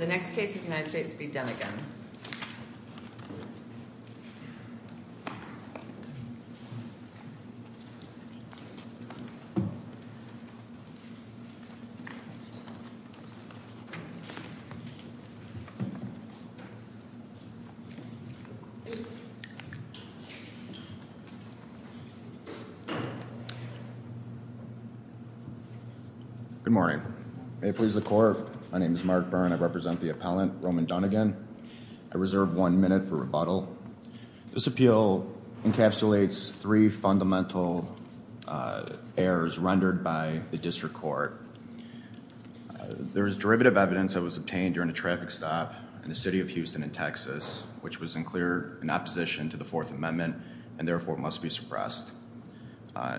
Good morning, may it please the Corps, my name is Mark Byrne, I represent the U.S. Army with the appellant Roman Dunnigan. I reserve one minute for rebuttal. This appeal encapsulates three fundamental errors rendered by the district court. There is derivative evidence that was obtained during a traffic stop in the city of Houston in Texas which was in clear in opposition to the Fourth Amendment and therefore must be suppressed.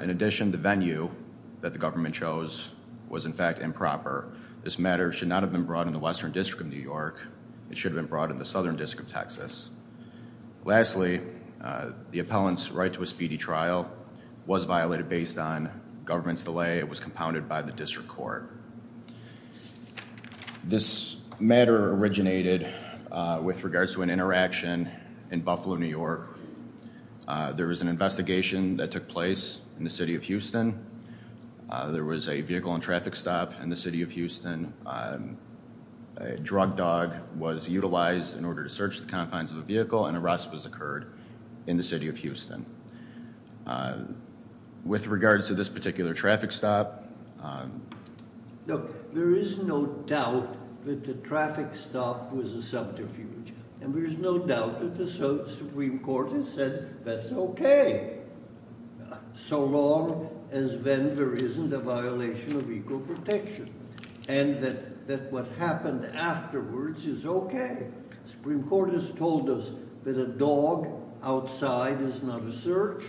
In addition, the venue that the government chose was in fact improper. This matter should not have been brought in the Western District of New York, it should have been brought in the Southern District of Texas. Lastly, the appellant's right to a speedy trial was violated based on government's delay, it was compounded by the district court. This matter originated with regards to an interaction in Buffalo, New York. There was an investigation that took place in the city of Houston. There was a vehicle in traffic stop in the city of Houston. A drug dog was utilized in order to search the confines of the vehicle and arrest was occurred in the city of Houston. With regards to this particular traffic stop, there is no doubt that the traffic stop was a subterfuge and there's no doubt that the Supreme Court has said that's okay, so long as then there isn't a violation of vehicle protection and that what happened afterwards is okay. The Supreme Court has told us that a dog outside is not a search,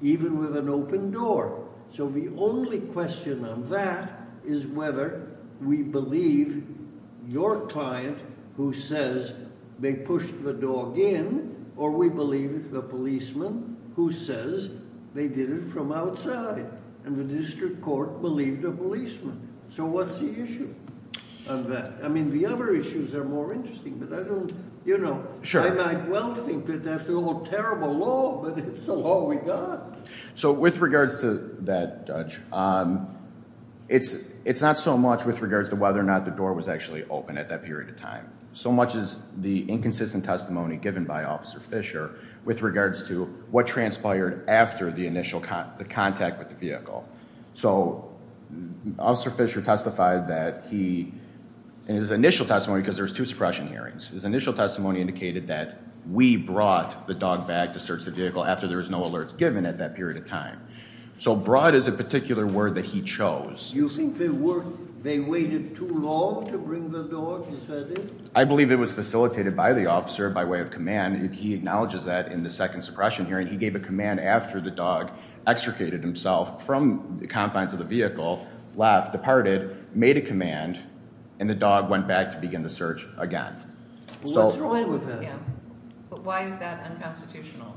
even with an open door. So the only question on that is whether we believe your client who says they pushed the dog in or we believe the policeman who says they did it from outside and the district court believed a policeman. So what's the issue of that? I mean the other issues are more interesting, but I don't, you know, I might well think that that's a little terrible law, but it's the law we got. So with regards to that, Judge, it's not so much with regards to whether or not the door was actually open at that period of time, so much as the inconsistent testimony given by Officer Fisher with regards to what transpired after the initial contact with the vehicle. So Officer Fisher testified that he, in his initial testimony, because there's two suppression hearings, his initial testimony indicated that we brought the dog back to search the vehicle after there was no alerts given at that period of time. So brought is a particular word that he chose. You think they waited too long to bring the dog? I believe it was facilitated by the officer by way of command. He acknowledges that in the second suppression hearing. He gave a command after the dog extricated himself from the confines of the vehicle, left, departed, made a command, and the dog went back to begin the search again. Why is that unconstitutional?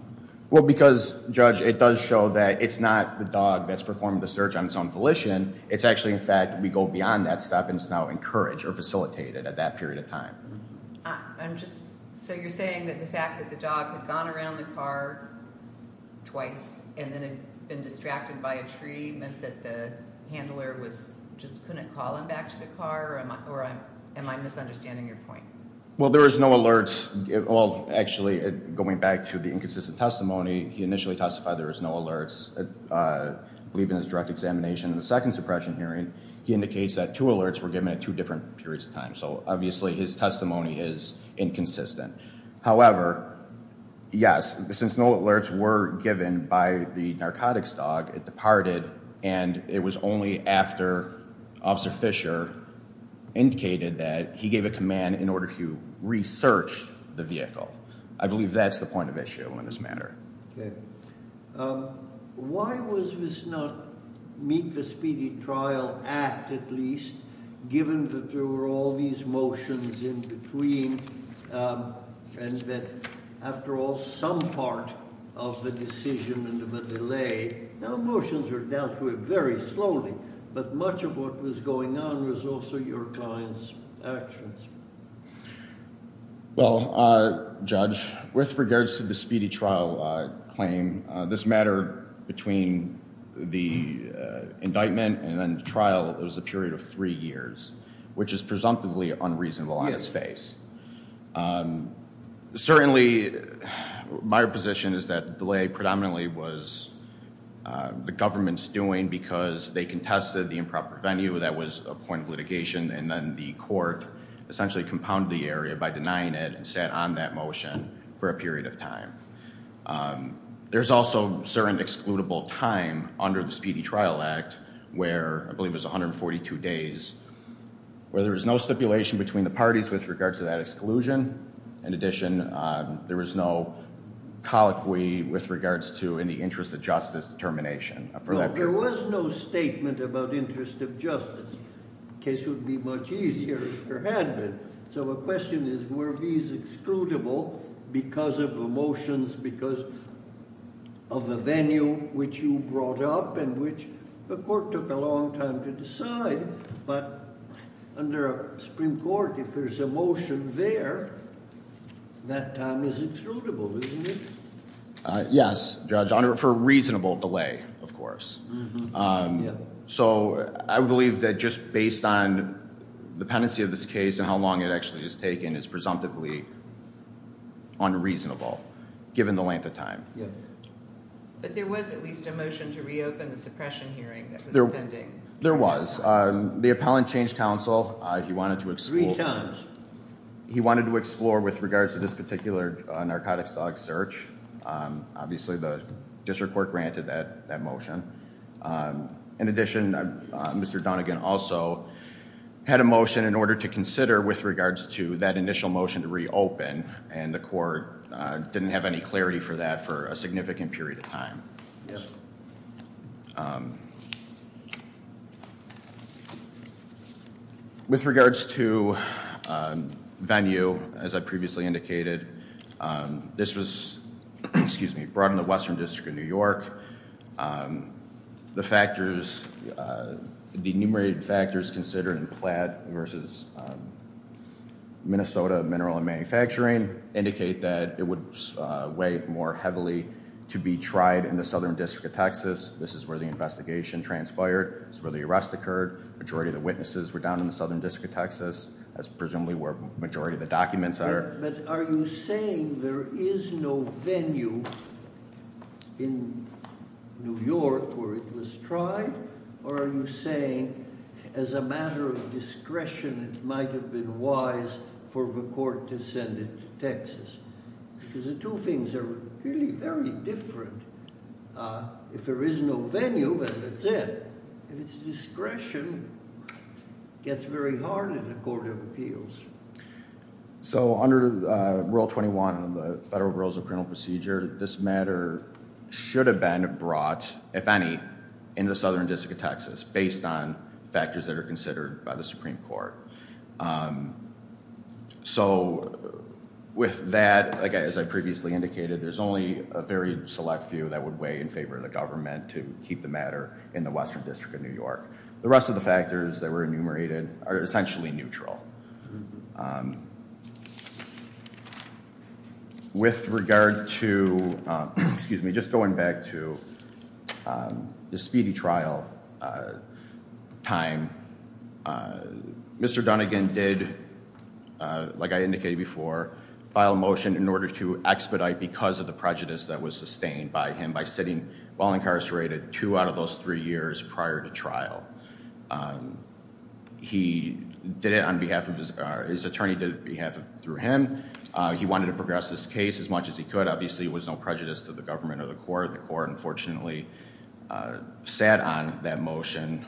Well because, Judge, it does show that it's not the dog that's performed the search on its own volition. It's actually, in fact, we go beyond that step and it's now encouraged or facilitated at that period of time. I'm just, so you're saying that the fact that the dog had gone around the car twice and then had been distracted by a tree meant that the handler was, just couldn't call him back to the car? Or am I misunderstanding your point? Well there was no alerts, well actually going back to the inconsistent testimony, he initially testified there was no alerts. I believe in his direct examination in the second suppression hearing, he indicates that two alerts were given at two different periods of time. So obviously his testimony is inconsistent. However, yes, since no alerts were given by the narcotics dog, it departed and it was only after Officer Fisher indicated that he gave a command in order to research the vehicle. I believe that's a point of issue in this matter. Okay. Why was this not meet the speedy trial act at least, given that there were all these motions in between and that after all some part of the decision and the delay, now motions were dealt with very slowly, but much of what was going on was also your client's actions. Well Judge, with regards to the speedy trial claim, this matter between the indictment and then the trial, it was a period of three years, which is presumptively unreasonable on its face. Certainly my position is that the delay predominantly was the government's doing because they contested the improper venue that was a point of litigation and then the court essentially compounded the area by denying it and sat on that motion for a period of time. There's also certain excludable time under the speedy trial act where I believe it was 142 days where there was no stipulation between the parties with regards to that exclusion. In addition, there was no colloquy with regards to any interest of justice determination. There was no statement about interest of justice. Case would be much easier if there had been. So the question is, were these excludable because of the motions, because of the venue which you brought up and which the court took a long time to decide, but under a Supreme Court, if there's a motion there, that time is excludable, isn't it? Yes, Judge, for a reasonable delay, of course. So I believe that just based on the pendency of this case and how long it actually has taken is presumptively unreasonable given the length of time. But there was at least a motion to reopen the suppression hearing. There was. The appellant changed counsel. He wanted to explore with regards to this particular narcotics dog search. Obviously the district court granted that that motion. In addition, Mr. Donegan also had a motion in order to consider with regards to that initial motion to reopen and the court didn't have any clarity for that for a significant period of time. With regards to venue, as I previously indicated, this was, excuse me, brought in the Western District of New York. The factors, the enumerated factors considered in Platt versus Minnesota Mineral and Manufacturing indicate that it would weigh more heavily to be tried in the Southern District of Texas. This is where the investigation transpired. It's where the arrest occurred. Majority of the witnesses were down in the Southern District of Texas. That's presumably where majority of the documents are. But are you saying there is no venue in New York where it was tried or are you saying as a matter of discretion it might have been wise for the court to send it to Texas? Because the two things are really very different. If there is no venue, then that's it. If it's discretion, it gets very hard in the Court of Appeals. So under Rule 21 of the Federal Rules of Criminal Procedure, this matter should have been brought, if any, in the Southern District of Texas based on factors that are considered by the Supreme Court. So with that, as I previously indicated, there's only a very select few that would weigh in favor of the government to keep the matter in the Western District of New York. The rest of the factors that were enumerated are essentially neutral. With regard to, excuse me, time, Mr. Dunnigan did, like I indicated before, file a motion in order to expedite because of the prejudice that was sustained by him by sitting while incarcerated two out of those three years prior to trial. He did it on behalf of his, his attorney did it on behalf of him. He wanted to progress this case as much as he could. Obviously it was no prejudice to the government or the court. The court unfortunately sat on that motion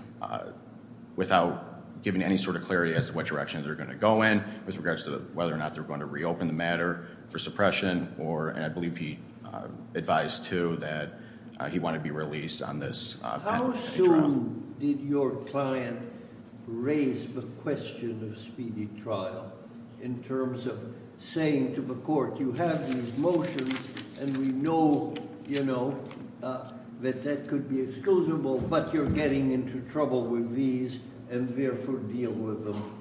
without giving any sort of clarity as to what direction they're going to go in with regards to whether or not they're going to reopen the matter for suppression or, and I believe he advised too, that he wanted to be released on this. How soon did your client raise the question of speedy trial in terms of saying to the court, you have these motions and we know, you know, that that could be excusable, but you're getting into trouble with these and therefore deal with them.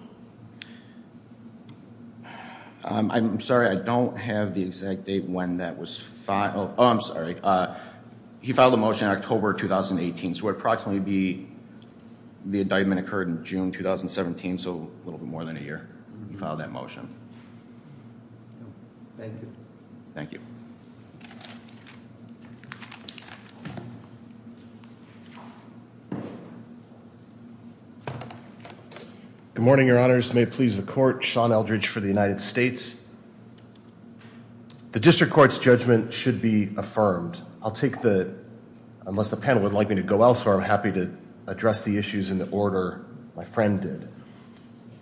I'm sorry, I don't have the exact date when that was filed. Oh, I'm sorry. He filed a motion in October 2018, so it would approximately be, the indictment occurred in June 2017, so a year. He filed that motion. Thank you. Good morning, your honors. May it please the court, Sean Eldridge for the United States. The district court's judgment should be affirmed. I'll take the, unless the panel would like me to go elsewhere, I'm happy to address the issues in the order my friend did.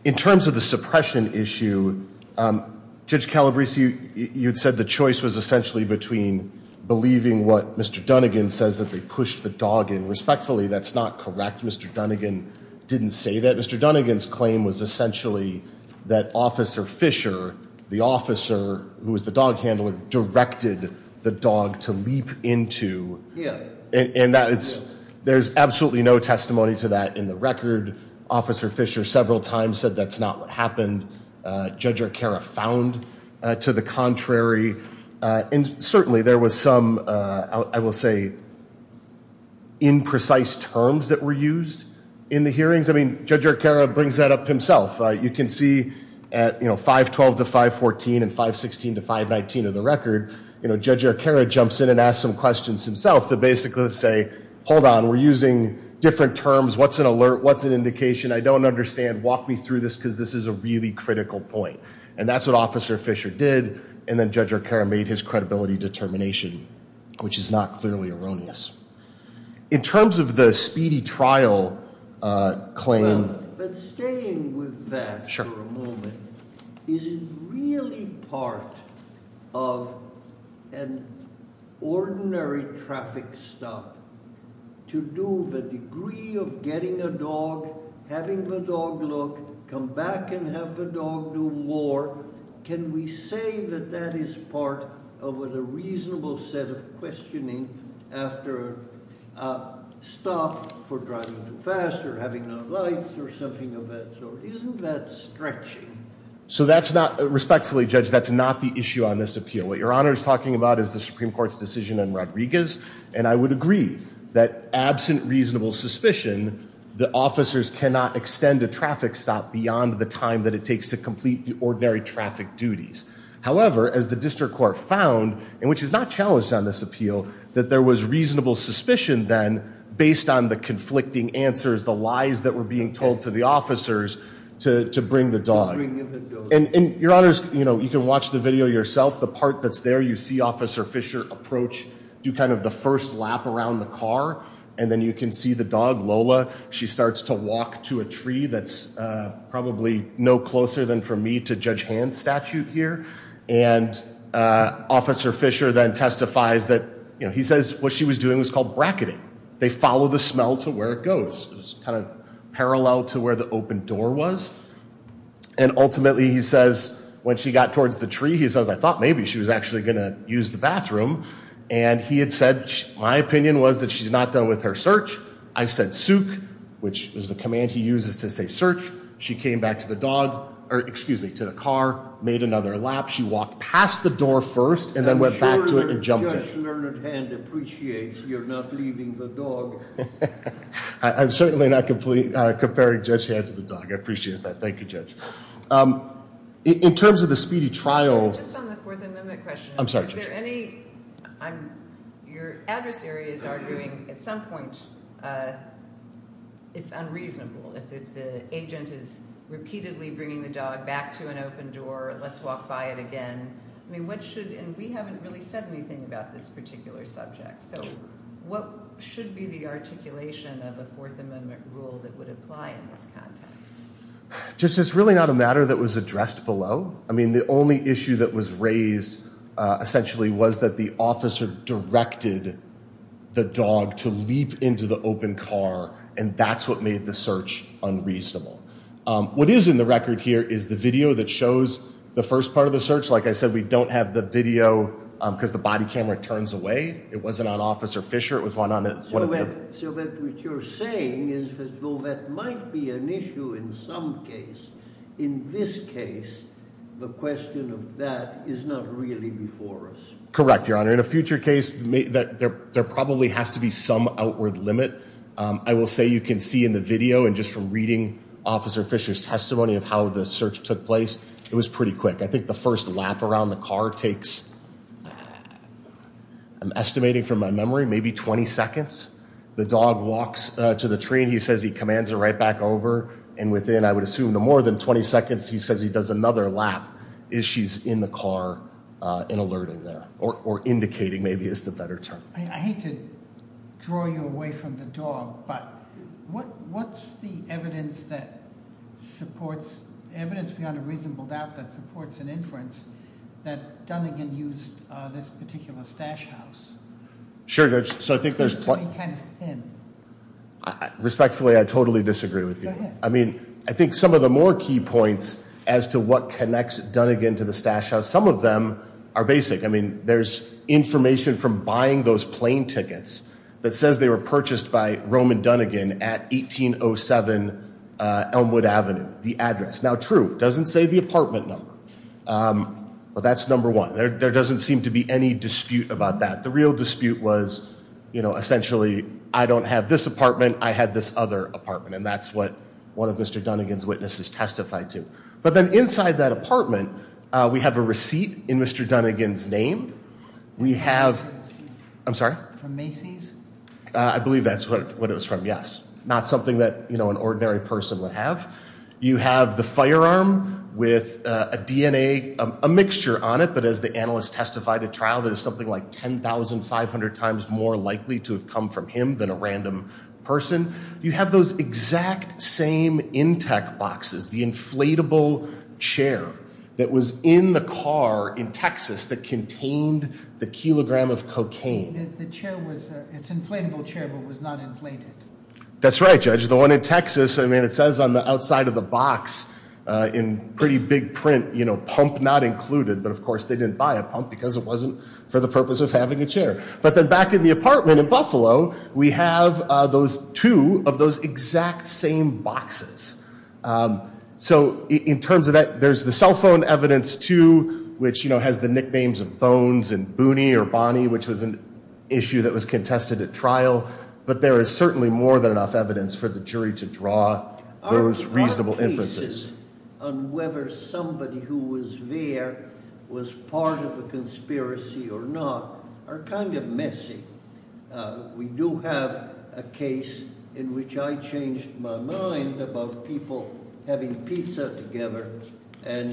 In terms of the suppression issue, Judge Calabresi, you said the choice was essentially between believing what Mr. Dunnigan says that they pushed the dog in. Respectfully, that's not correct. Mr. Dunnigan didn't say that. Mr. Dunnigan's claim was essentially that Officer Fisher, the officer who was the dog handler, directed the dog to leap into. Yeah. And that is, there's absolutely no testimony to that in the record. Officer Fisher several times said that's not what happened. Judge Arcara found to the contrary, and certainly there was some, I will say, imprecise terms that were used in the hearings. I mean, Judge Arcara brings that up himself. You can see at, you know, 512 to 514 and 516 to 519 of the record, you know, Judge Arcara jumps in and asks some questions himself to basically say, hold on, we're using different terms. What's an alert? What's an indication? I don't understand. Walk me through this because this is a really critical point. And that's what Officer Fisher did, and then Judge Arcara made his credibility determination, which is not clearly erroneous. In terms of the speedy trial claim, is it really part of an ordinary traffic stop to do the degree of getting a dog, having the dog look, come back and have the dog do more? Can we say that that is part of a reasonable set of questioning after a stop for driving too fast or having no lights or something of that sort? Isn't that stretching? So that's not, respectfully, Judge, that's not the issue on this appeal. What your Honor is talking about is the Supreme Court's decision on Rodriguez, and I would agree that absent reasonable suspicion, the officers cannot extend a traffic stop beyond the time that it takes to complete the ordinary traffic duties. However, as the District Court found, and which is not challenged on this appeal, that there was reasonable suspicion then based on the conflicting answers, the lies that were being told to the officers to bring the dog. And your Honor's, you know, you can watch the video yourself. The part that's there, you see Officer Fisher approach, do kind of the first lap around the car, and then you can see the dog, Lola. She starts to walk to a tree that's probably no closer than for me to Judge Hand's statute here. And Officer Fisher then testifies that, you know, he says what she was doing was called bracketing. They follow the smell to where it goes, kind of parallel to where the open door was. And ultimately, he says, when she got towards the tree, he says, I thought maybe she was actually gonna use the bathroom. And he had said, my opinion was that she's not done with her search. I said sook, which was the command he uses to say search. She came back to the dog, or excuse me, to the car, made another lap. She walked past the door first, and then went back to it and jumped it. I'm sure Judge Leonard Hand appreciates you're not leaving the dog. I'm certainly not comparing Judge Hand to the dog. I appreciate that. Thank you, Judge. In repeatedly bringing the dog back to an open door, let's walk by it again. I mean, what should, and we haven't really said anything about this particular subject. So what should be the articulation of a Fourth Amendment rule that would apply in this context? Just it's really not a matter that was addressed below. I mean, the only issue that was raised, essentially, was that the officer directed the dog to leap into the open car. And that's what made the search unreasonable. What is in the record here is the video that shows the first part of the search. Like I said, we don't have the video because the body camera turns away. It wasn't on Officer Fisher. It was one on one of them. So what you're saying is, well, that might be an issue in some case. In this case, the question of that is not really before us. Correct, Your Honor. In a future case, there probably has to be some outward limit. I will say you can see in the video and just from reading Officer Fisher's testimony of how the search took place, it was pretty quick. I think the first lap around the car takes, I'm estimating from my memory, maybe 20 seconds. The dog walks to the tree and he says he commands her right back over. And within, I would assume, no more than 20 seconds, he says he does another lap as she's in the car and alerting there or indicating maybe is the better term. I hate to draw you away from the dog, but what's the evidence that supports evidence beyond a reasonable doubt that supports an inference that Dunnigan used this particular stash house? Sure, Judge. So I think there's... Respectfully, I totally disagree with you. I mean, I think some of the more key points as to what connects Dunnigan to the stash house, some of them are basic. I mean, there's information from buying those plane tickets that says they were purchased by Roman Dunnigan at 1807 Elmwood Avenue, the address. Now, true, it doesn't say the apartment number, but that's number one. There doesn't seem to be any dispute about that. The real dispute was, you know, essentially, I don't have this apartment, I had this other apartment, and that's what one of Mr. Dunnigan's witnesses testified to. But then inside that apartment, we have a receipt in Mr. Dunnigan's name. We have... I'm sorry? From Macy's? I believe that's what it was from, yes. Not something that, you know, an ordinary person would have. You have the firearm with a DNA, a mixture on it, but as the analyst testified, a trial that is something like 10,500 times more likely to have come from him than a random person. You have those exact same intake boxes, the inflatable chair that was in the car in Texas that contained the kilogram of cocaine. It's an inflatable chair, but it was not inflated. That's right, Judge. The one in Texas, I mean, it says on the outside of the box in pretty big print, you know, pump not included. But, of course, they didn't buy a pump because it wasn't for the purpose of having a chair. But then back in the apartment in Buffalo, we have those two of those exact same boxes. So in terms of that, there's the cell phone evidence, too, which, you know, has the nicknames of Bones and Booney or Bonnie, which was an issue that was contested at trial. But there is certainly more than enough evidence for the jury to draw those reasonable inferences. Our cases on whether somebody who was there was part of a conspiracy or not are kind of messy. We do have a case in which I changed my mind about people having pizza together and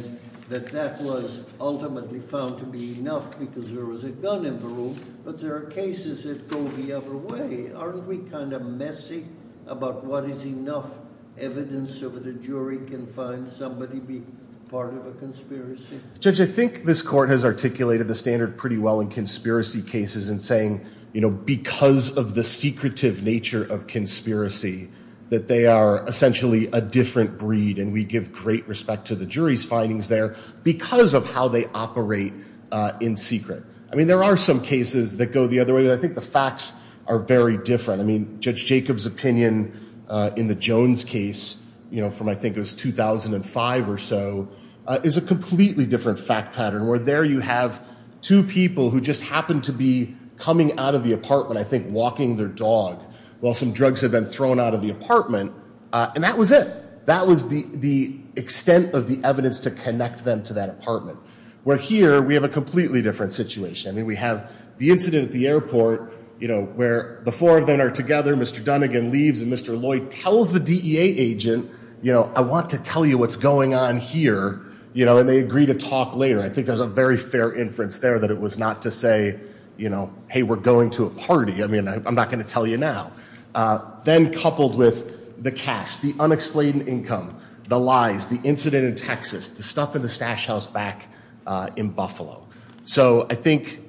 that that was ultimately found to be enough because there was a gun in the room. But there are cases that go the other way. Aren't we kind of messy about what is enough evidence so that a jury can find somebody be part of a conspiracy? Judge, I think this court has articulated the standard pretty well in conspiracy cases in saying, you know, because of the secretive nature of conspiracy, that they are essentially a different breed. And we give great respect to the jury's findings there because of how they operate in secret. I mean, there are some cases that go the other way. But I think the facts are very different. I mean, Judge Jacob's opinion in the Jones case, you know, from I think it was 2005 or so, is a completely different fact pattern where there you have two people who just happen to be coming out of the apartment, I think walking their dog, while some drugs have been thrown out of the apartment. And that was it. That was the extent of the evidence to connect them to that apartment. Where here we have a completely different situation. I mean, we have the incident at the airport, you know, where the four of them are together. Mr. Dunnigan leaves and Mr. Lloyd tells the DEA agent, you know, I want to tell you what's going on here. You know, and they agree to talk later. I think there's a very fair inference there that it was not to say, you know, hey, we're going to a party. I mean, I'm not going to tell you now. Then coupled with the cash, the unexplained income, the lies, the incident in Texas, the stuff in the stash house back in Buffalo. So I think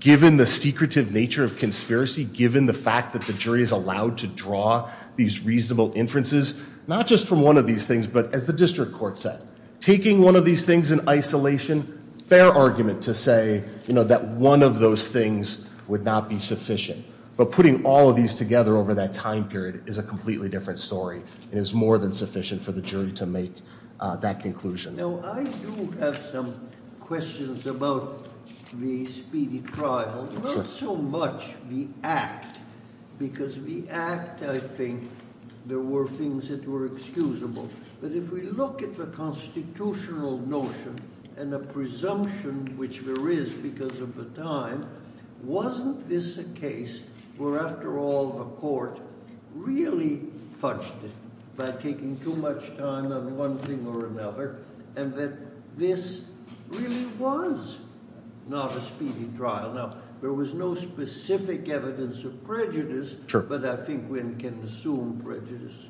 given the secretive nature of conspiracy, given the fact that the jury is allowed to draw these reasonable inferences, not just from one of these things, but as the district court said, taking one of these things in isolation, fair argument to say, you know, that one of those things would not be sufficient. But putting all of these together over that time period is a completely different story. It is more than sufficient for the jury to make that conclusion. Now, I do have some questions about the speedy trial. Not so much the act, because the act, I think, there were things that were excusable. But if we look at the constitutional notion and the presumption, which there is because of the time, wasn't this a case where, after all, the court really fudged it by taking too much time on one thing or another, and that this really was not a speedy trial? Now, there was no specific evidence of prejudice, but I think one can assume prejudice.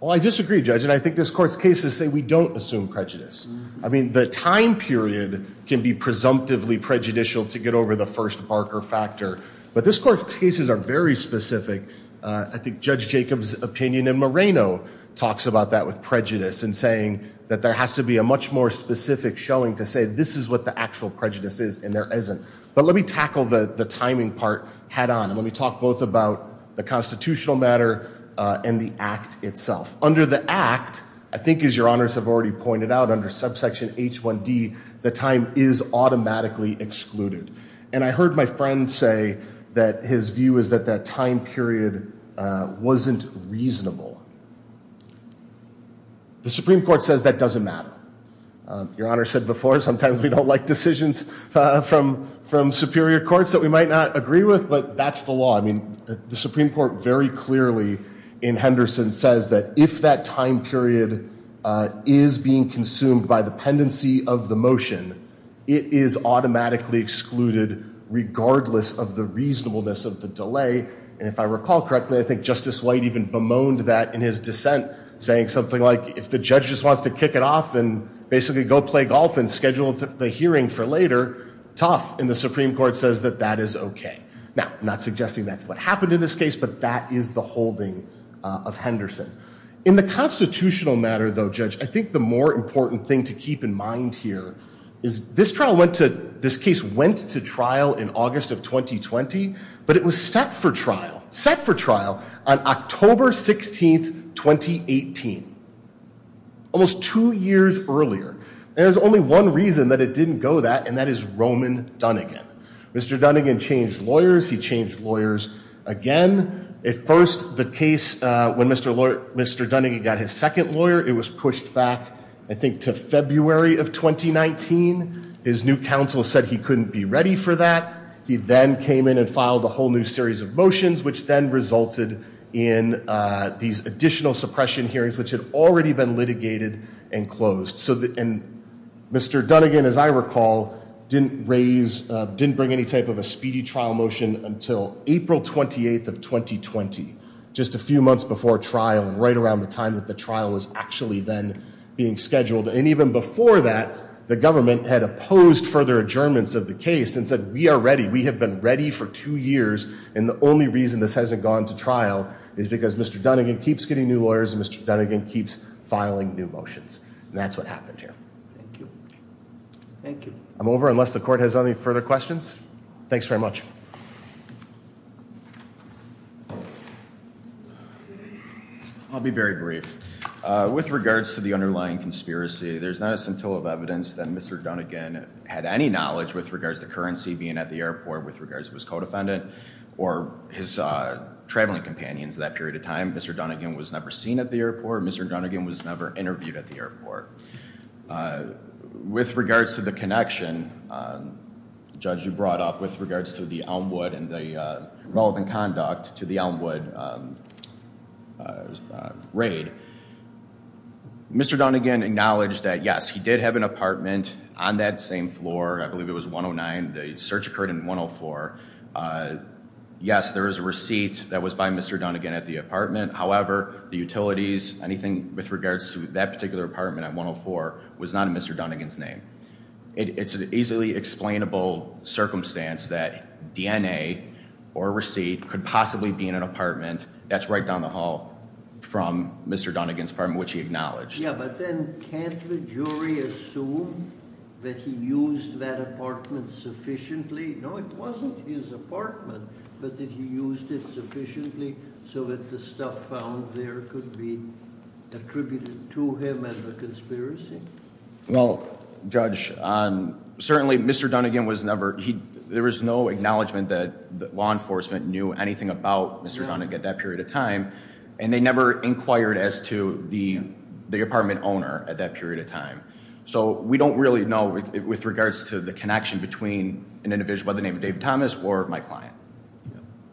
Well, I disagree, Judge, and I think this court's cases say we don't assume prejudice. I mean, the time period can be presumptively prejudicial to get over the first Barker factor, but this court's cases are very specific. I think Judge Jacob's opinion in Moreno talks about that with prejudice in saying that there has to be a much more specific showing to say this is what the actual prejudice is, and there isn't. But let me tackle the timing part head on, and let me talk both about the constitutional matter and the act itself. Under the act, I think as Your Honors have already pointed out, under subsection H1D, the time is automatically excluded. And I heard my friend say that his view is that that time period wasn't reasonable. The Supreme Court says that doesn't matter. Your Honor said before sometimes we don't like decisions from superior courts that we might not agree with, but that's the law. I mean, the Supreme Court very clearly in Henderson says that if that time period is being consumed by the pendency of the motion, it is automatically excluded regardless of the reasonableness of the delay. And if I recall correctly, I think Justice White even bemoaned that in his dissent, saying something like if the judge just wants to kick it off and basically go play golf and schedule the hearing for later, tough. And the Supreme Court says that that is OK. Now, I'm not suggesting that's what happened in this case, but that is the holding of Henderson. In the constitutional matter, though, Judge, I think the more important thing to keep in mind here is this trial went to, this case went to trial in August of 2020, but it was set for trial, set for trial on October 16th, 2018, almost two years earlier. There's only one reason that it didn't go that, and that is Roman Dunnigan. Mr. Dunnigan changed lawyers. He changed lawyers again. At first, the case, when Mr. Dunnigan got his second lawyer, it was pushed back, I think, to February of 2019. His new counsel said he couldn't be ready for that. He then came in and filed a whole new series of motions, which then resulted in these additional suppression hearings, which had already been litigated and closed. And Mr. Dunnigan, as I recall, didn't raise, didn't bring any type of a speedy trial motion until April 28th of 2020, just a few months before trial and right around the time that the trial was actually then being scheduled. And even before that, the government had opposed further adjournments of the case and said, we are ready. We have been ready for two years. And the only reason this hasn't gone to trial is because Mr. Dunnigan keeps getting new lawyers and Mr. Dunnigan keeps filing new motions. And that's what happened here. Thank you. Thank you. I'm over unless the court has any further questions. Thanks very much. I'll be very brief. With regards to the underlying conspiracy, there's not a scintilla of evidence that Mr. Dunnigan had any knowledge with regards to currency being at the airport, with regards to his co-defendant or his traveling companions at that period of time. Mr. Dunnigan was never seen at the airport. Mr. Dunnigan was never interviewed at the airport. With regards to the connection, Judge, you brought up with regards to the Elmwood and the relevant conduct to the Elmwood raid. Mr. Dunnigan acknowledged that, yes, he did have an apartment on that same floor. I believe it was 109. The search occurred in 104. Yes, there is a receipt that was by Mr. Dunnigan at the apartment. However, the utilities, anything with regards to that particular apartment at 104 was not in Mr. Dunnigan's name. It's an easily explainable circumstance that DNA or receipt could possibly be in an apartment. That's right down the hall from Mr. Dunnigan's apartment, which he acknowledged. Yeah, but then can't the jury assume that he used that apartment sufficiently? No, it wasn't his apartment, but that he used it sufficiently so that the stuff found there could be attributed to him as a conspiracy? Well, Judge, certainly Mr. Dunnigan was never, there was no acknowledgement that law enforcement knew anything about Mr. Dunnigan at that period of time. And they never inquired as to the apartment owner at that period of time. So we don't really know with regards to the connection between an individual by the name of David Thomas or my client.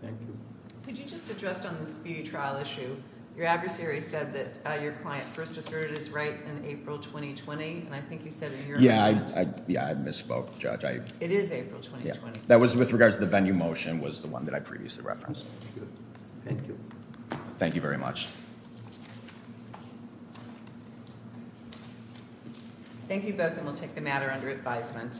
Thank you. Could you just address on the speedy trial issue, your adversary said that your client first asserted his right in April 2020. And I think you said in your... Yeah, I misspoke, Judge. It is April 2020. That was with regards to the venue motion was the one that I previously referenced. Thank you. Thank you very much. Thank you both and we'll take the matter under advisement.